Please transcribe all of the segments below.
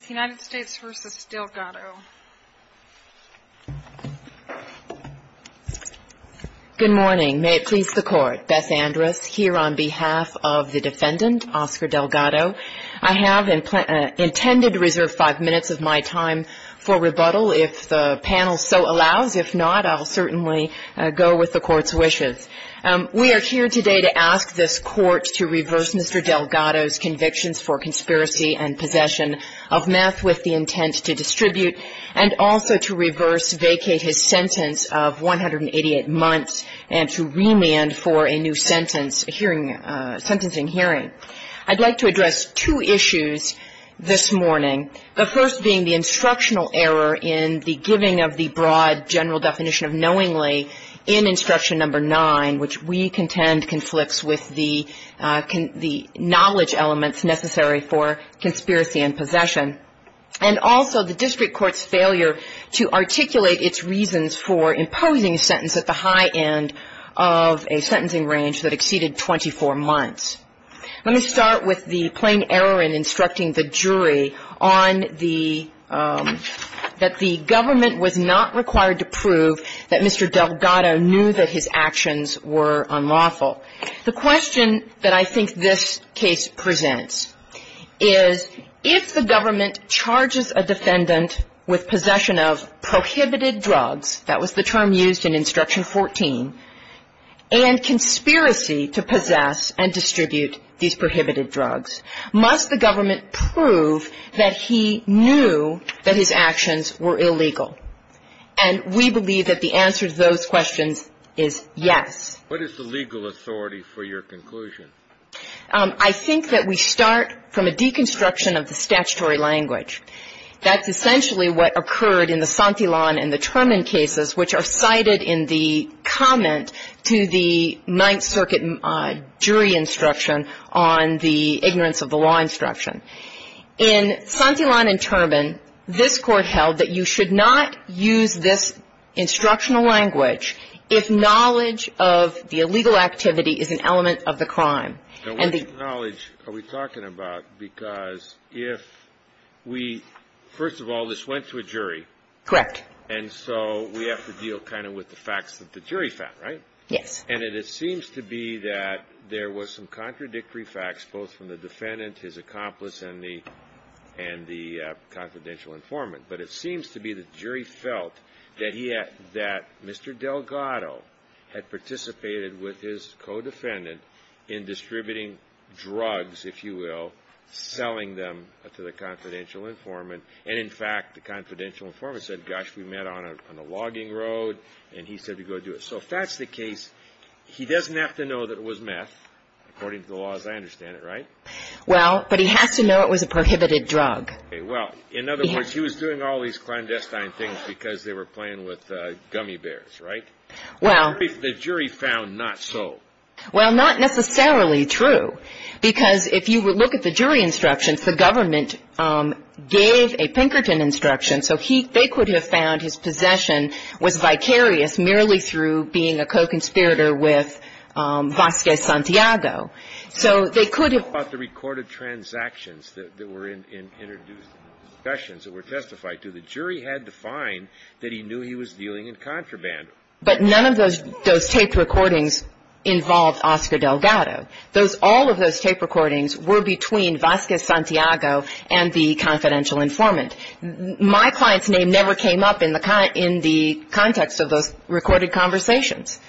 Good morning. May it please the Court, Beth Andrus here on behalf of the defendant, Oscar Delgado. I have intended to reserve five minutes of my time for rebuttal if the panel so allows. If not, I'll certainly go with the Court's wishes. We are here today to ask this Court to reverse Mr. Delgado's convictions for conspiracy and possession of money. We have a few minutes left. I'd like to address two issues this morning, the first being the instructional error in the giving of the broad general definition of knowingly in Instruction No. 9, which we contend conflicts with the knowledge elements necessary for conspiracy and possession. And also the district court's failure to articulate its reasons for imposing a sentence at the high end of a sentencing range that exceeded 24 months. Let me start with the plain error in instructing the jury on the, that the government was not required to prove that Mr. Delgado knew that his actions were unlawful. The question that I think this case presents is if the government charges a defendant with possession of prohibited drugs, that was the term used in Instruction 14, and conspiracy to possess and distribute these prohibited drugs, must the government prove that he knew that his actions were illegal? And we believe that the answer to those questions is yes. What is the legal authority for your conclusion? I think that we start from a deconstruction of the statutory language. That's essentially what occurred in the Santillan and the Turman cases, which are cited in the comment to the Ninth Circuit jury instruction on the ignorance of the law instruction. In Santillan and Turman, this Court held that you should not use this instructional language if knowledge of the illegal activity is an element of the crime. Now, what knowledge are we talking about? Because if we, first of all, this went to a jury. Correct. And so we have to deal kind of with the facts that the jury found, right? Yes. And it seems to be that there was some contradictory facts, both from the defendant, his accomplice, and the confidential informant. But it seems to be the jury felt that Mr. Delgado had participated with his co-defendant in distributing drugs, if you will, selling them to the confidential informant. And in fact, the confidential informant said, gosh, we met on a logging road, and he said to go do it. So if that's the case, he doesn't have to know that it was meth, according to the laws, I understand it, right? Well, but he has to know it was a prohibited drug. Well, in other words, he was doing all these clandestine things because they were playing with gummy bears, right? Well. The jury found not so. Well, not necessarily true, because if you would look at the jury instructions, the government gave a Pinkerton instruction. So he they could have found his possession was vicarious merely through being a co-conspirator with Vasquez Santiago. So they could have. But the recorded transactions that were introduced in the discussions that were testified to, the jury had to find that he knew he was dealing in contraband. But none of those taped recordings involved Oscar Delgado. All of those tape recordings were between Vasquez Santiago and the confidential informant. My client's name never came up in the context of those recorded conversations.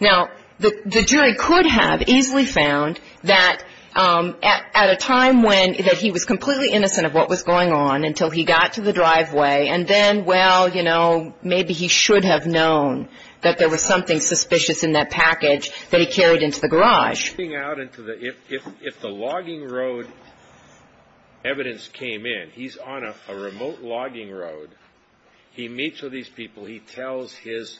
Now, the jury could have easily found that at a time when he was completely innocent of what was going on until he got to the driveway, and then, well, you know, maybe he should have known that there was something suspicious in that package that he carried into the garage. If the logging road evidence came in, he's on a remote logging road. He meets with these people. He tells his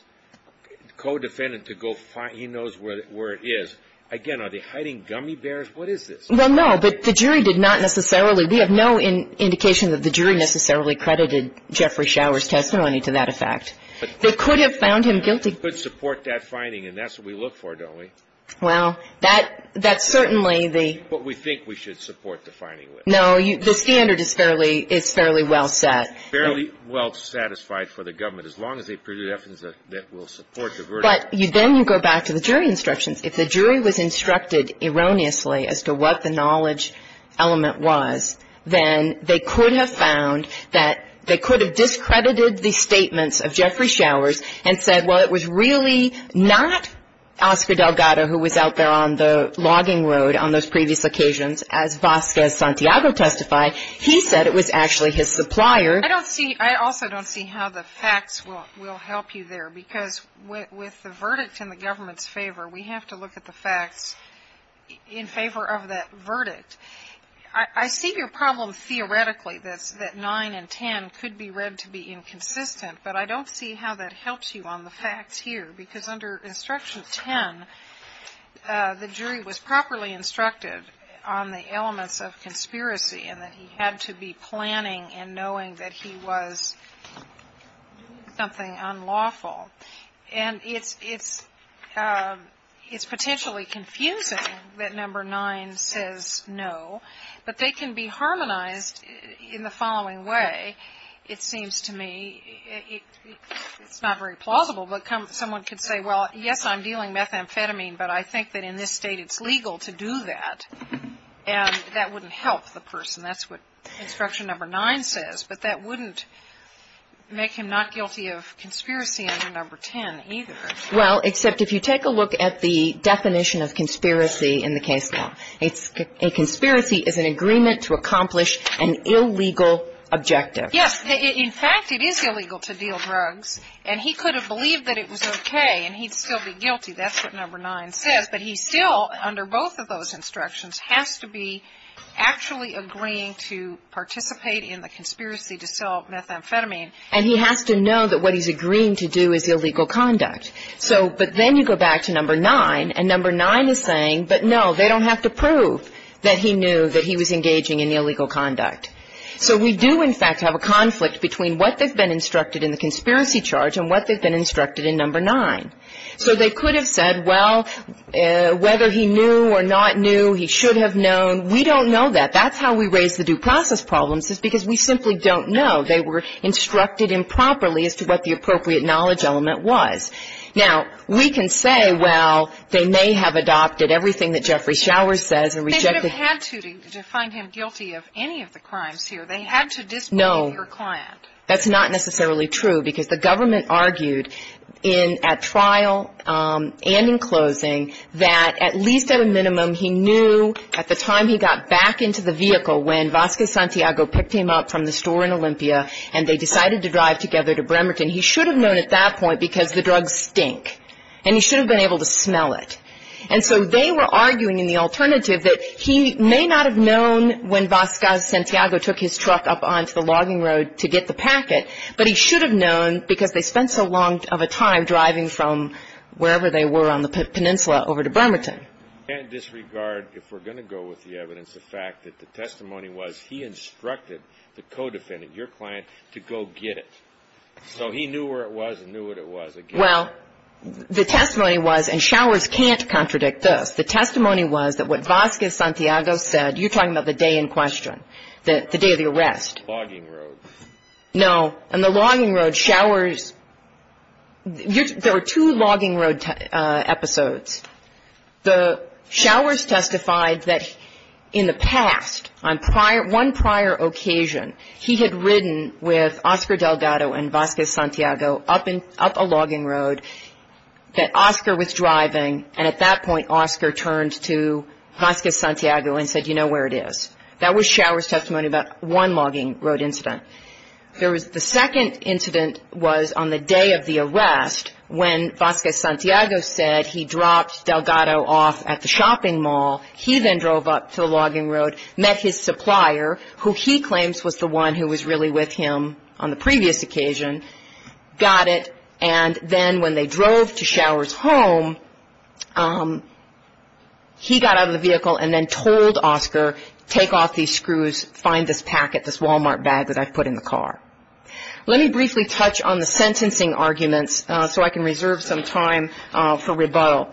co-defendant to go find he knows where it is. Again, are they hiding gummy bears? What is this? Well, no, but the jury did not necessarily. We have no indication that the jury necessarily credited Jeffrey Shower's testimony to that effect. They could have found him guilty. They could support that finding, and that's what we look for, don't we? Well, that's certainly the. What we think we should support the finding with. No. The standard is fairly well set. Fairly well satisfied for the government, as long as they presented evidence that will support the verdict. But then you go back to the jury instructions. If the jury was instructed erroneously as to what the knowledge element was, then they could have found that they could have discredited the statements of Jeffrey Showers and said, well, it was really not Oscar Delgado who was out there on the logging road on those previous occasions. As Vasquez Santiago testified, he said it was actually his supplier. I don't see. I also don't see how the facts will help you there, because with the verdict in the government's favor, we have to look at the facts in favor of that verdict. I see your problem theoretically, that 9 and 10 could be read to be inconsistent, but I don't see how that helps you on the facts here, because under instruction 10, the jury was properly instructed on the elements of conspiracy and that he had to be planning and knowing that he was doing something unlawful. And it's potentially confusing that number 9 says no, but they can be harmonized in the following way, it seems to me. It's not very plausible, but someone could say, well, yes, I'm dealing methamphetamine, but I think that in this State it's legal to do that, and that wouldn't help the person. That's what instruction number 9 says. But that wouldn't make him not guilty of conspiracy under number 10 either. Well, except if you take a look at the definition of conspiracy in the case now. A conspiracy is an agreement to accomplish an illegal objective. Yes. In fact, it is illegal to deal drugs, and he could have believed that it was okay and he'd still be guilty. That's what number 9 says. But he still, under both of those instructions, has to be actually agreeing to participate in the conspiracy to sell methamphetamine. And he has to know that what he's agreeing to do is illegal conduct. But then you go back to number 9, and number 9 is saying, but no, they don't have to prove that he knew that he was engaging in illegal conduct. So we do, in fact, have a conflict between what they've been instructed in the conspiracy charge and what they've been instructed in number 9. So they could have said, well, whether he knew or not knew, he should have known. We don't know that. That's how we raise the due process problems is because we simply don't know. They were instructed improperly as to what the appropriate knowledge element was. Now, we can say, well, they may have adopted everything that Jeffrey Showers says and rejected. They should have had to to find him guilty of any of the crimes here. They had to dismiss your client. No. That's not necessarily true because the government argued at trial and in closing that at least at a minimum he knew at the time he got back into the vehicle when Vasquez Santiago picked him up from the store in Olympia and they decided to drive together to Bremerton. He should have known at that point because the drugs stink. And he should have been able to smell it. And so they were arguing in the alternative that he may not have known when Vasquez Santiago took his truck up onto the logging road to get the packet, but he should have known because they spent so long of a time driving from wherever they were on the peninsula over to Bremerton. I can't disregard, if we're going to go with the evidence, the fact that the testimony was he instructed the co-defendant, your client, to go get it. So he knew where it was and knew what it was. Well, the testimony was, and Showers can't contradict this, the testimony was that what Vasquez Santiago said, you're talking about the day in question, the day of the arrest. Logging road. No. On the logging road, Showers, there were two logging road episodes. Showers testified that in the past, on one prior occasion, he had ridden with Oscar Delgado and Vasquez Santiago up a logging road that Oscar was driving and at that point Oscar turned to Vasquez Santiago and said, you know where it is. That was Showers' testimony about one logging road incident. There was the second incident was on the day of the arrest when Vasquez Santiago said he dropped Delgado off at the shopping mall. He then drove up to the logging road, met his supplier, who he claims was the one who was really with him on the previous occasion, got it, and then when they drove to Showers' home, he got out of the vehicle and then told Oscar, take off these screws, find this packet, this Walmart bag that I put in the car. Let me briefly touch on the sentencing arguments so I can reserve some time for rebuttal.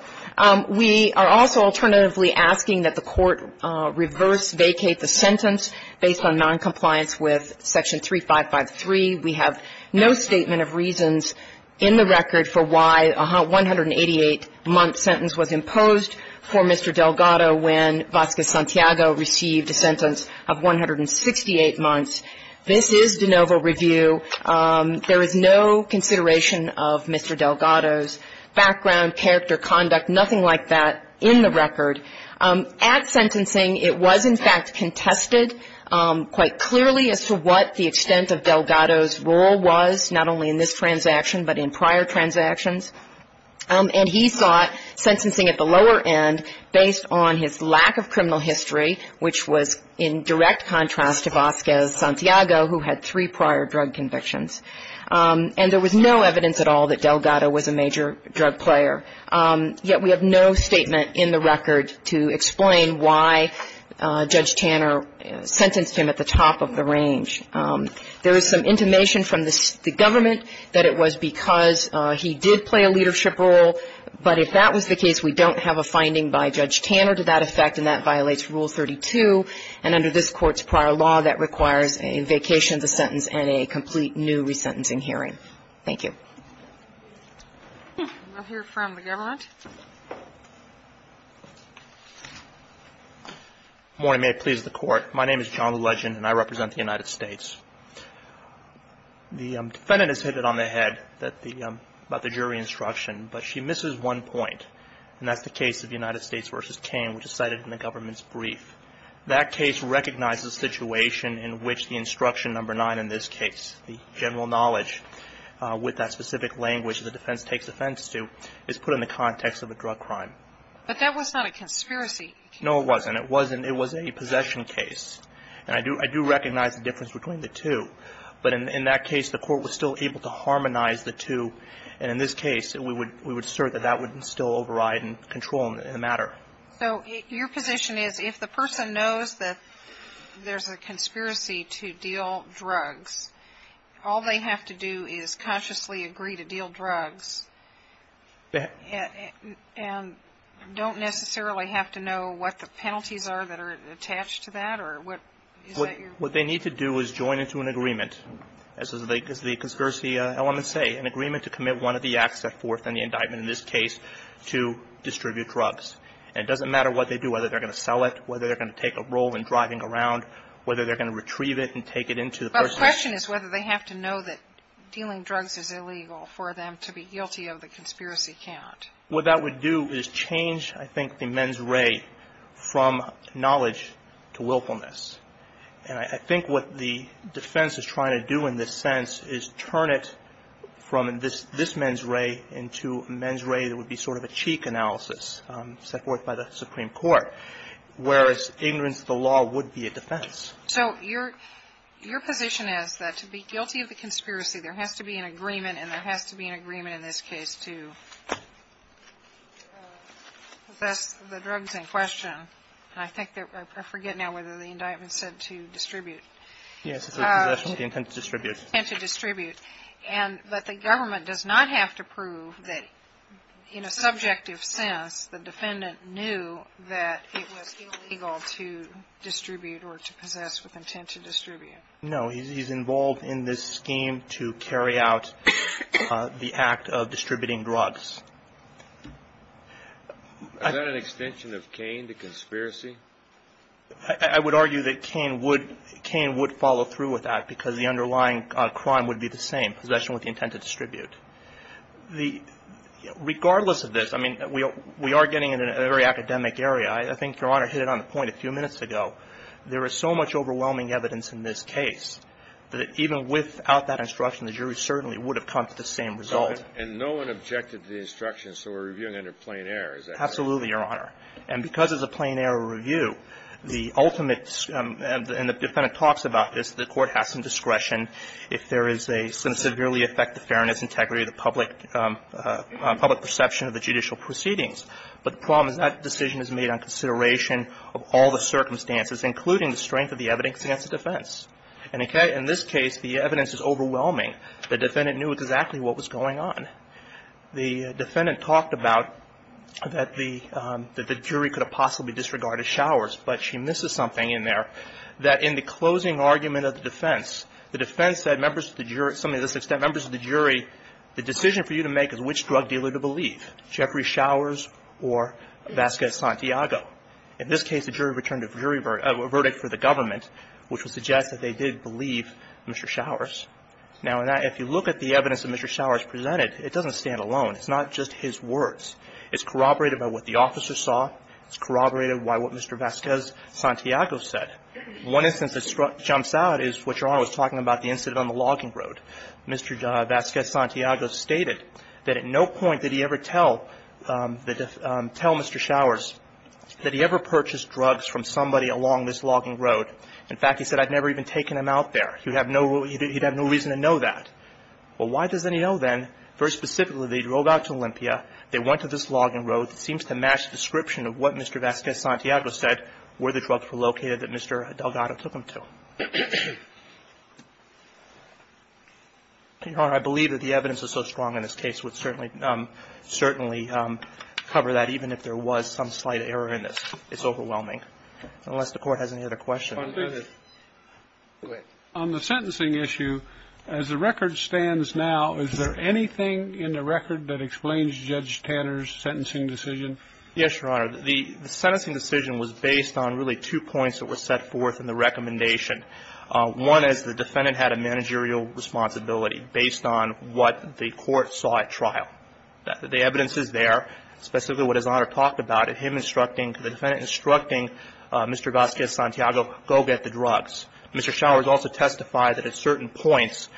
We are also alternatively asking that the court reverse vacate the sentence based on noncompliance with Section 3553. We have no statement of reasons in the record for why a 188-month sentence was imposed for Mr. Delgado when Vasquez Santiago received a sentence of 168 months. This is de novo review. There is no consideration of Mr. Delgado's background, character, conduct, nothing like that in the record. At sentencing, it was in fact contested quite clearly as to what the extent of Delgado's role was, not only in this transaction but in prior transactions. And he sought sentencing at the lower end based on his lack of criminal history, which was in direct contrast to Vasquez Santiago, who had three prior drug convictions. And there was no evidence at all that Delgado was a major drug player. Yet we have no statement in the record to explain why Judge Tanner sentenced him at the top of the range. There is some intimation from the government that it was because he did play a leadership role. But if that was the case, we don't have a finding by Judge Tanner to that effect, and that violates Rule 32. And under this Court's prior law, that requires a vacation of the sentence and a complete new resentencing hearing. Thank you. We'll hear from the government. Good morning. May it please the Court. My name is John Legend, and I represent the United States. The defendant has hit it on the head about the jury instruction, but she misses one point, and that's the case of the United States v. Cain, which is cited in the government's brief. That case recognizes the situation in which the instruction number 9 in this case, the general knowledge with that specific language the defense takes offense to, is put in the context of a drug crime. But that was not a conspiracy. No, it wasn't. It wasn't. It was a possession case. And I do recognize the difference between the two. But in that case, the Court was still able to harmonize the two. And in this case, we would assert that that would still override and control the matter. So your position is if the person knows that there's a conspiracy to deal drugs, all they have to do is consciously agree to deal drugs and don't necessarily have to know what the penalties are that are attached to that, or what is that your? What they need to do is join into an agreement, as the conspiracy elements say, an agreement to commit one of the acts set forth in the indictment in this case to distribute drugs. And it doesn't matter what they do, whether they're going to sell it, whether they're going to take a role in driving around, whether they're going to retrieve it and take it into the person. But the question is whether they have to know that dealing drugs is illegal for them to be guilty of the conspiracy count. What that would do is change, I think, the men's ray from knowledge to willfulness. And I think what the defense is trying to do in this sense is turn it from this men's ray into a men's ray that would be sort of a cheek analysis set forth by the Supreme Court, whereas ignorance of the law would be a defense. So your position is that to be guilty of the conspiracy, there has to be an agreement, and there has to be an agreement in this case to possess the drugs in question. And I think that I forget now whether the indictment said to distribute. Yes. The intent to distribute. The intent to distribute. But the government does not have to prove that in a subjective sense the defendant knew that it was illegal to distribute or to possess with intent to distribute. No. He's involved in this scheme to carry out the act of distributing drugs. Is that an extension of Cain, the conspiracy? I would argue that Cain would follow through with that because the underlying crime would be the same, possession with the intent to distribute. Regardless of this, I mean, we are getting into a very academic area. I think Your Honor hit it on the point a few minutes ago. There is so much overwhelming evidence in this case that even without that instruction, the jury certainly would have come to the same result. And no one objected to the instruction, so we're reviewing under plain error. Is that correct? Absolutely, Your Honor. And because it's a plain error review, the ultimate, and the defendant talks about this, the Court has some discretion if there is a severely affected fairness, integrity, the public perception of the judicial proceedings. But the problem is that decision is made on consideration of all the circumstances, including the strength of the evidence against the defense. And in this case, the evidence is overwhelming. The defendant knew exactly what was going on. The defendant talked about that the jury could have possibly disregarded Showers, but she misses something in there, that in the closing argument of the defense, the defense said members of the jury, somebody to this extent, members of the jury, the decision for you to make is which drug dealer to believe, Jeffrey Showers or Vasquez-Santiago. In this case, the jury returned a verdict for the government, which would suggest that they did believe Mr. Showers. Now, if you look at the evidence that Mr. Showers presented, it doesn't stand alone. It's not just his words. It's corroborated by what the officer saw. It's corroborated by what Mr. Vasquez-Santiago said. One instance that jumps out is what Your Honor was talking about, the incident on the logging road. Mr. Vasquez-Santiago stated that at no point did he ever tell Mr. Showers that he ever purchased drugs from somebody along this logging road. In fact, he said, I've never even taken them out there. He'd have no reason to know that. Well, why doesn't he know then? Very specifically, they drove out to Olympia. They went to this logging road. It seems to match the description of what Mr. Vasquez-Santiago said where the drugs were located that Mr. Delgado took them to. Your Honor, I believe that the evidence is so strong in this case would certainly cover that, even if there was some slight error in this. It's overwhelming. Unless the Court has any other questions. Go ahead. On the sentencing issue, as the record stands now, is there anything in the record that explains Judge Tanner's sentencing decision? Yes, Your Honor. The sentencing decision was based on really two points that were set forth in the recommendation. One is the defendant had a managerial responsibility based on what the Court saw at trial. The evidence is there, specifically what His Honor talked about, him instructing, the defendant instructing Mr. Vasquez-Santiago, go get the drugs. Mr. Showers also testified that at certain points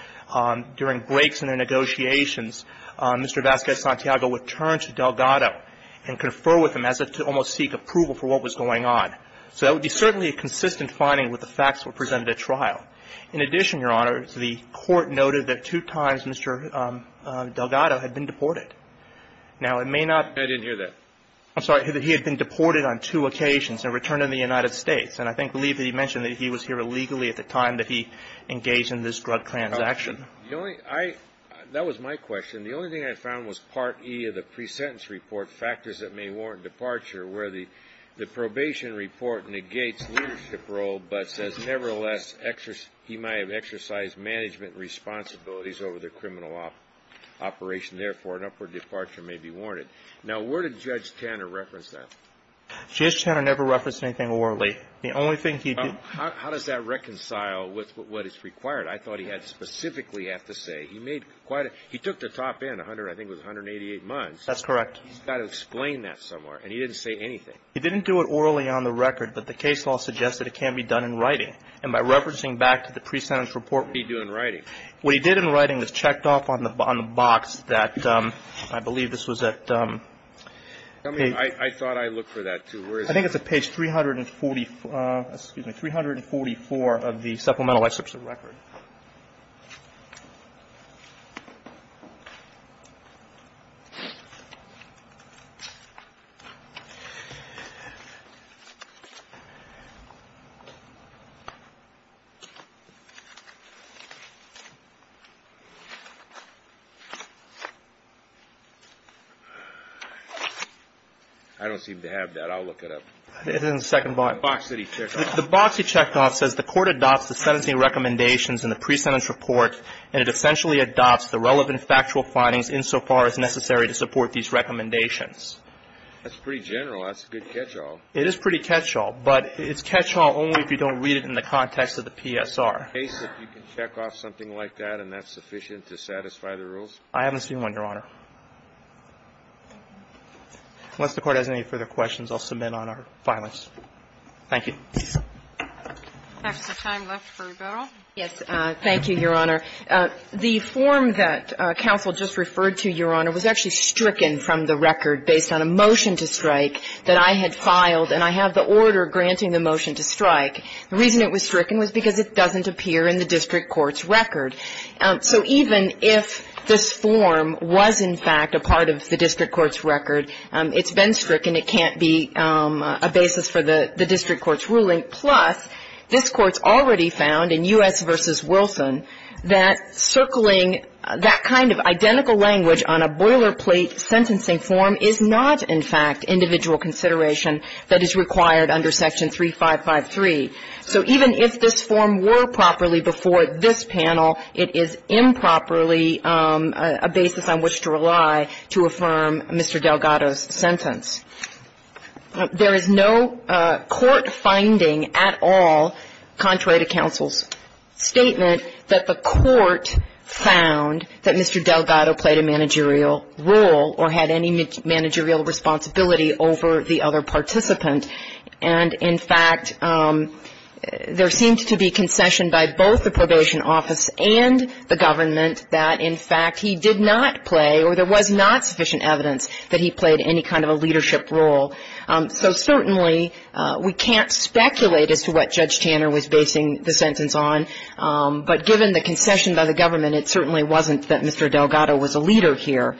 during breaks in the negotiations, Mr. Vasquez-Santiago would turn to Delgado and confer with him as if to almost seek approval for what was going on. So that would be certainly a consistent finding with the facts that were presented at trial. In addition, Your Honor, the Court noted that two times Mr. Delgado had been deported. Now, it may not be. I didn't hear that. I'm sorry. He had been deported on two occasions and returned to the United States. And I believe that he mentioned that he was here illegally at the time that he engaged in this drug transaction. The only – I – that was my question. The only thing I found was Part E of the presentence report, factors that may warrant an upward departure, where the probation report negates leadership role but says, nevertheless, he might have exercised management responsibilities over the criminal operation. Therefore, an upward departure may be warranted. Now, where did Judge Tanner reference that? Judge Tanner never referenced anything warrantly. The only thing he did – How does that reconcile with what is required? I thought he had specifically have to say. He made quite a – he took the top end, I think it was 188 months. That's correct. He's got to explain that somewhere. And he didn't say anything. He didn't do it orally on the record. But the case law suggests that it can be done in writing. And by referencing back to the presentence report – What did he do in writing? What he did in writing was checked off on the box that – I believe this was at – Tell me – I thought I looked for that, too. Where is it? I think it's at page 340 – excuse me – 344 of the supplemental excerpts of the record. Okay. I don't seem to have that. I'll look it up. It's in the second box. The box that he checked off. It says the court adopts the sentencing recommendations in the presentence report and it essentially adopts the relevant factual findings insofar as necessary to support these recommendations. That's pretty general. That's a good catch-all. It is pretty catch-all. But it's catch-all only if you don't read it in the context of the PSR. In the case that you can check off something like that and that's sufficient to satisfy the rules? I haven't seen one, Your Honor. Unless the Court has any further questions, I'll submit on our filings. Thank you. That's the time left for rebuttal. Yes. Thank you, Your Honor. The form that counsel just referred to, Your Honor, was actually stricken from the record based on a motion to strike that I had filed, and I have the order granting the motion to strike. The reason it was stricken was because it doesn't appear in the district court's record. So even if this form was in fact a part of the district court's record, it's been stricken. It can't be a basis for the district court's ruling. Plus, this Court's already found in U.S. v. Wilson that circling that kind of identical language on a boilerplate sentencing form is not in fact individual consideration that is required under Section 3553. So even if this form were properly before this panel, it is improperly a basis on which to rely to affirm Mr. Delgado's sentence. There is no court finding at all contrary to counsel's statement that the court found that Mr. Delgado played a managerial role or had any managerial responsibility over the other participant. And in fact, there seems to be concession by both the probation office and the government that in fact he did not play or there was not sufficient evidence that he played any kind of a leadership role. So certainly, we can't speculate as to what Judge Tanner was basing the sentence on, but given the concession by the government, it certainly wasn't that Mr. Delgado was a leader here.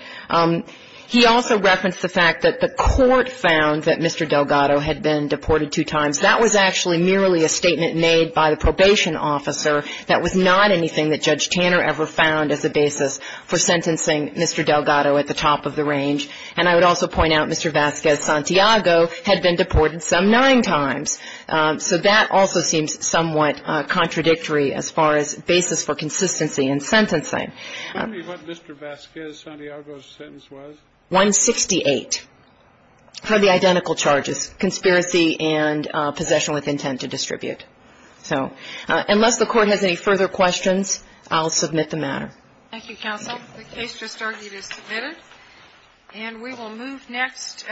He also referenced the fact that the court found that Mr. Delgado had been deported two times. That was actually merely a statement made by the probation officer. That was not anything that Judge Tanner ever found as a basis for sentencing Mr. Delgado at the top of the range. And I would also point out Mr. Vasquez-Santiago had been deported some nine times. So that also seems somewhat contradictory as far as basis for consistency in sentencing. Kennedy, what Mr. Vasquez-Santiago's sentence was? 168 for the identical charges, conspiracy and possession with intent to distribute. So unless the Court has any further questions, I'll submit the matter. Thank you, counsel. The case just argued is submitted. And we will move next.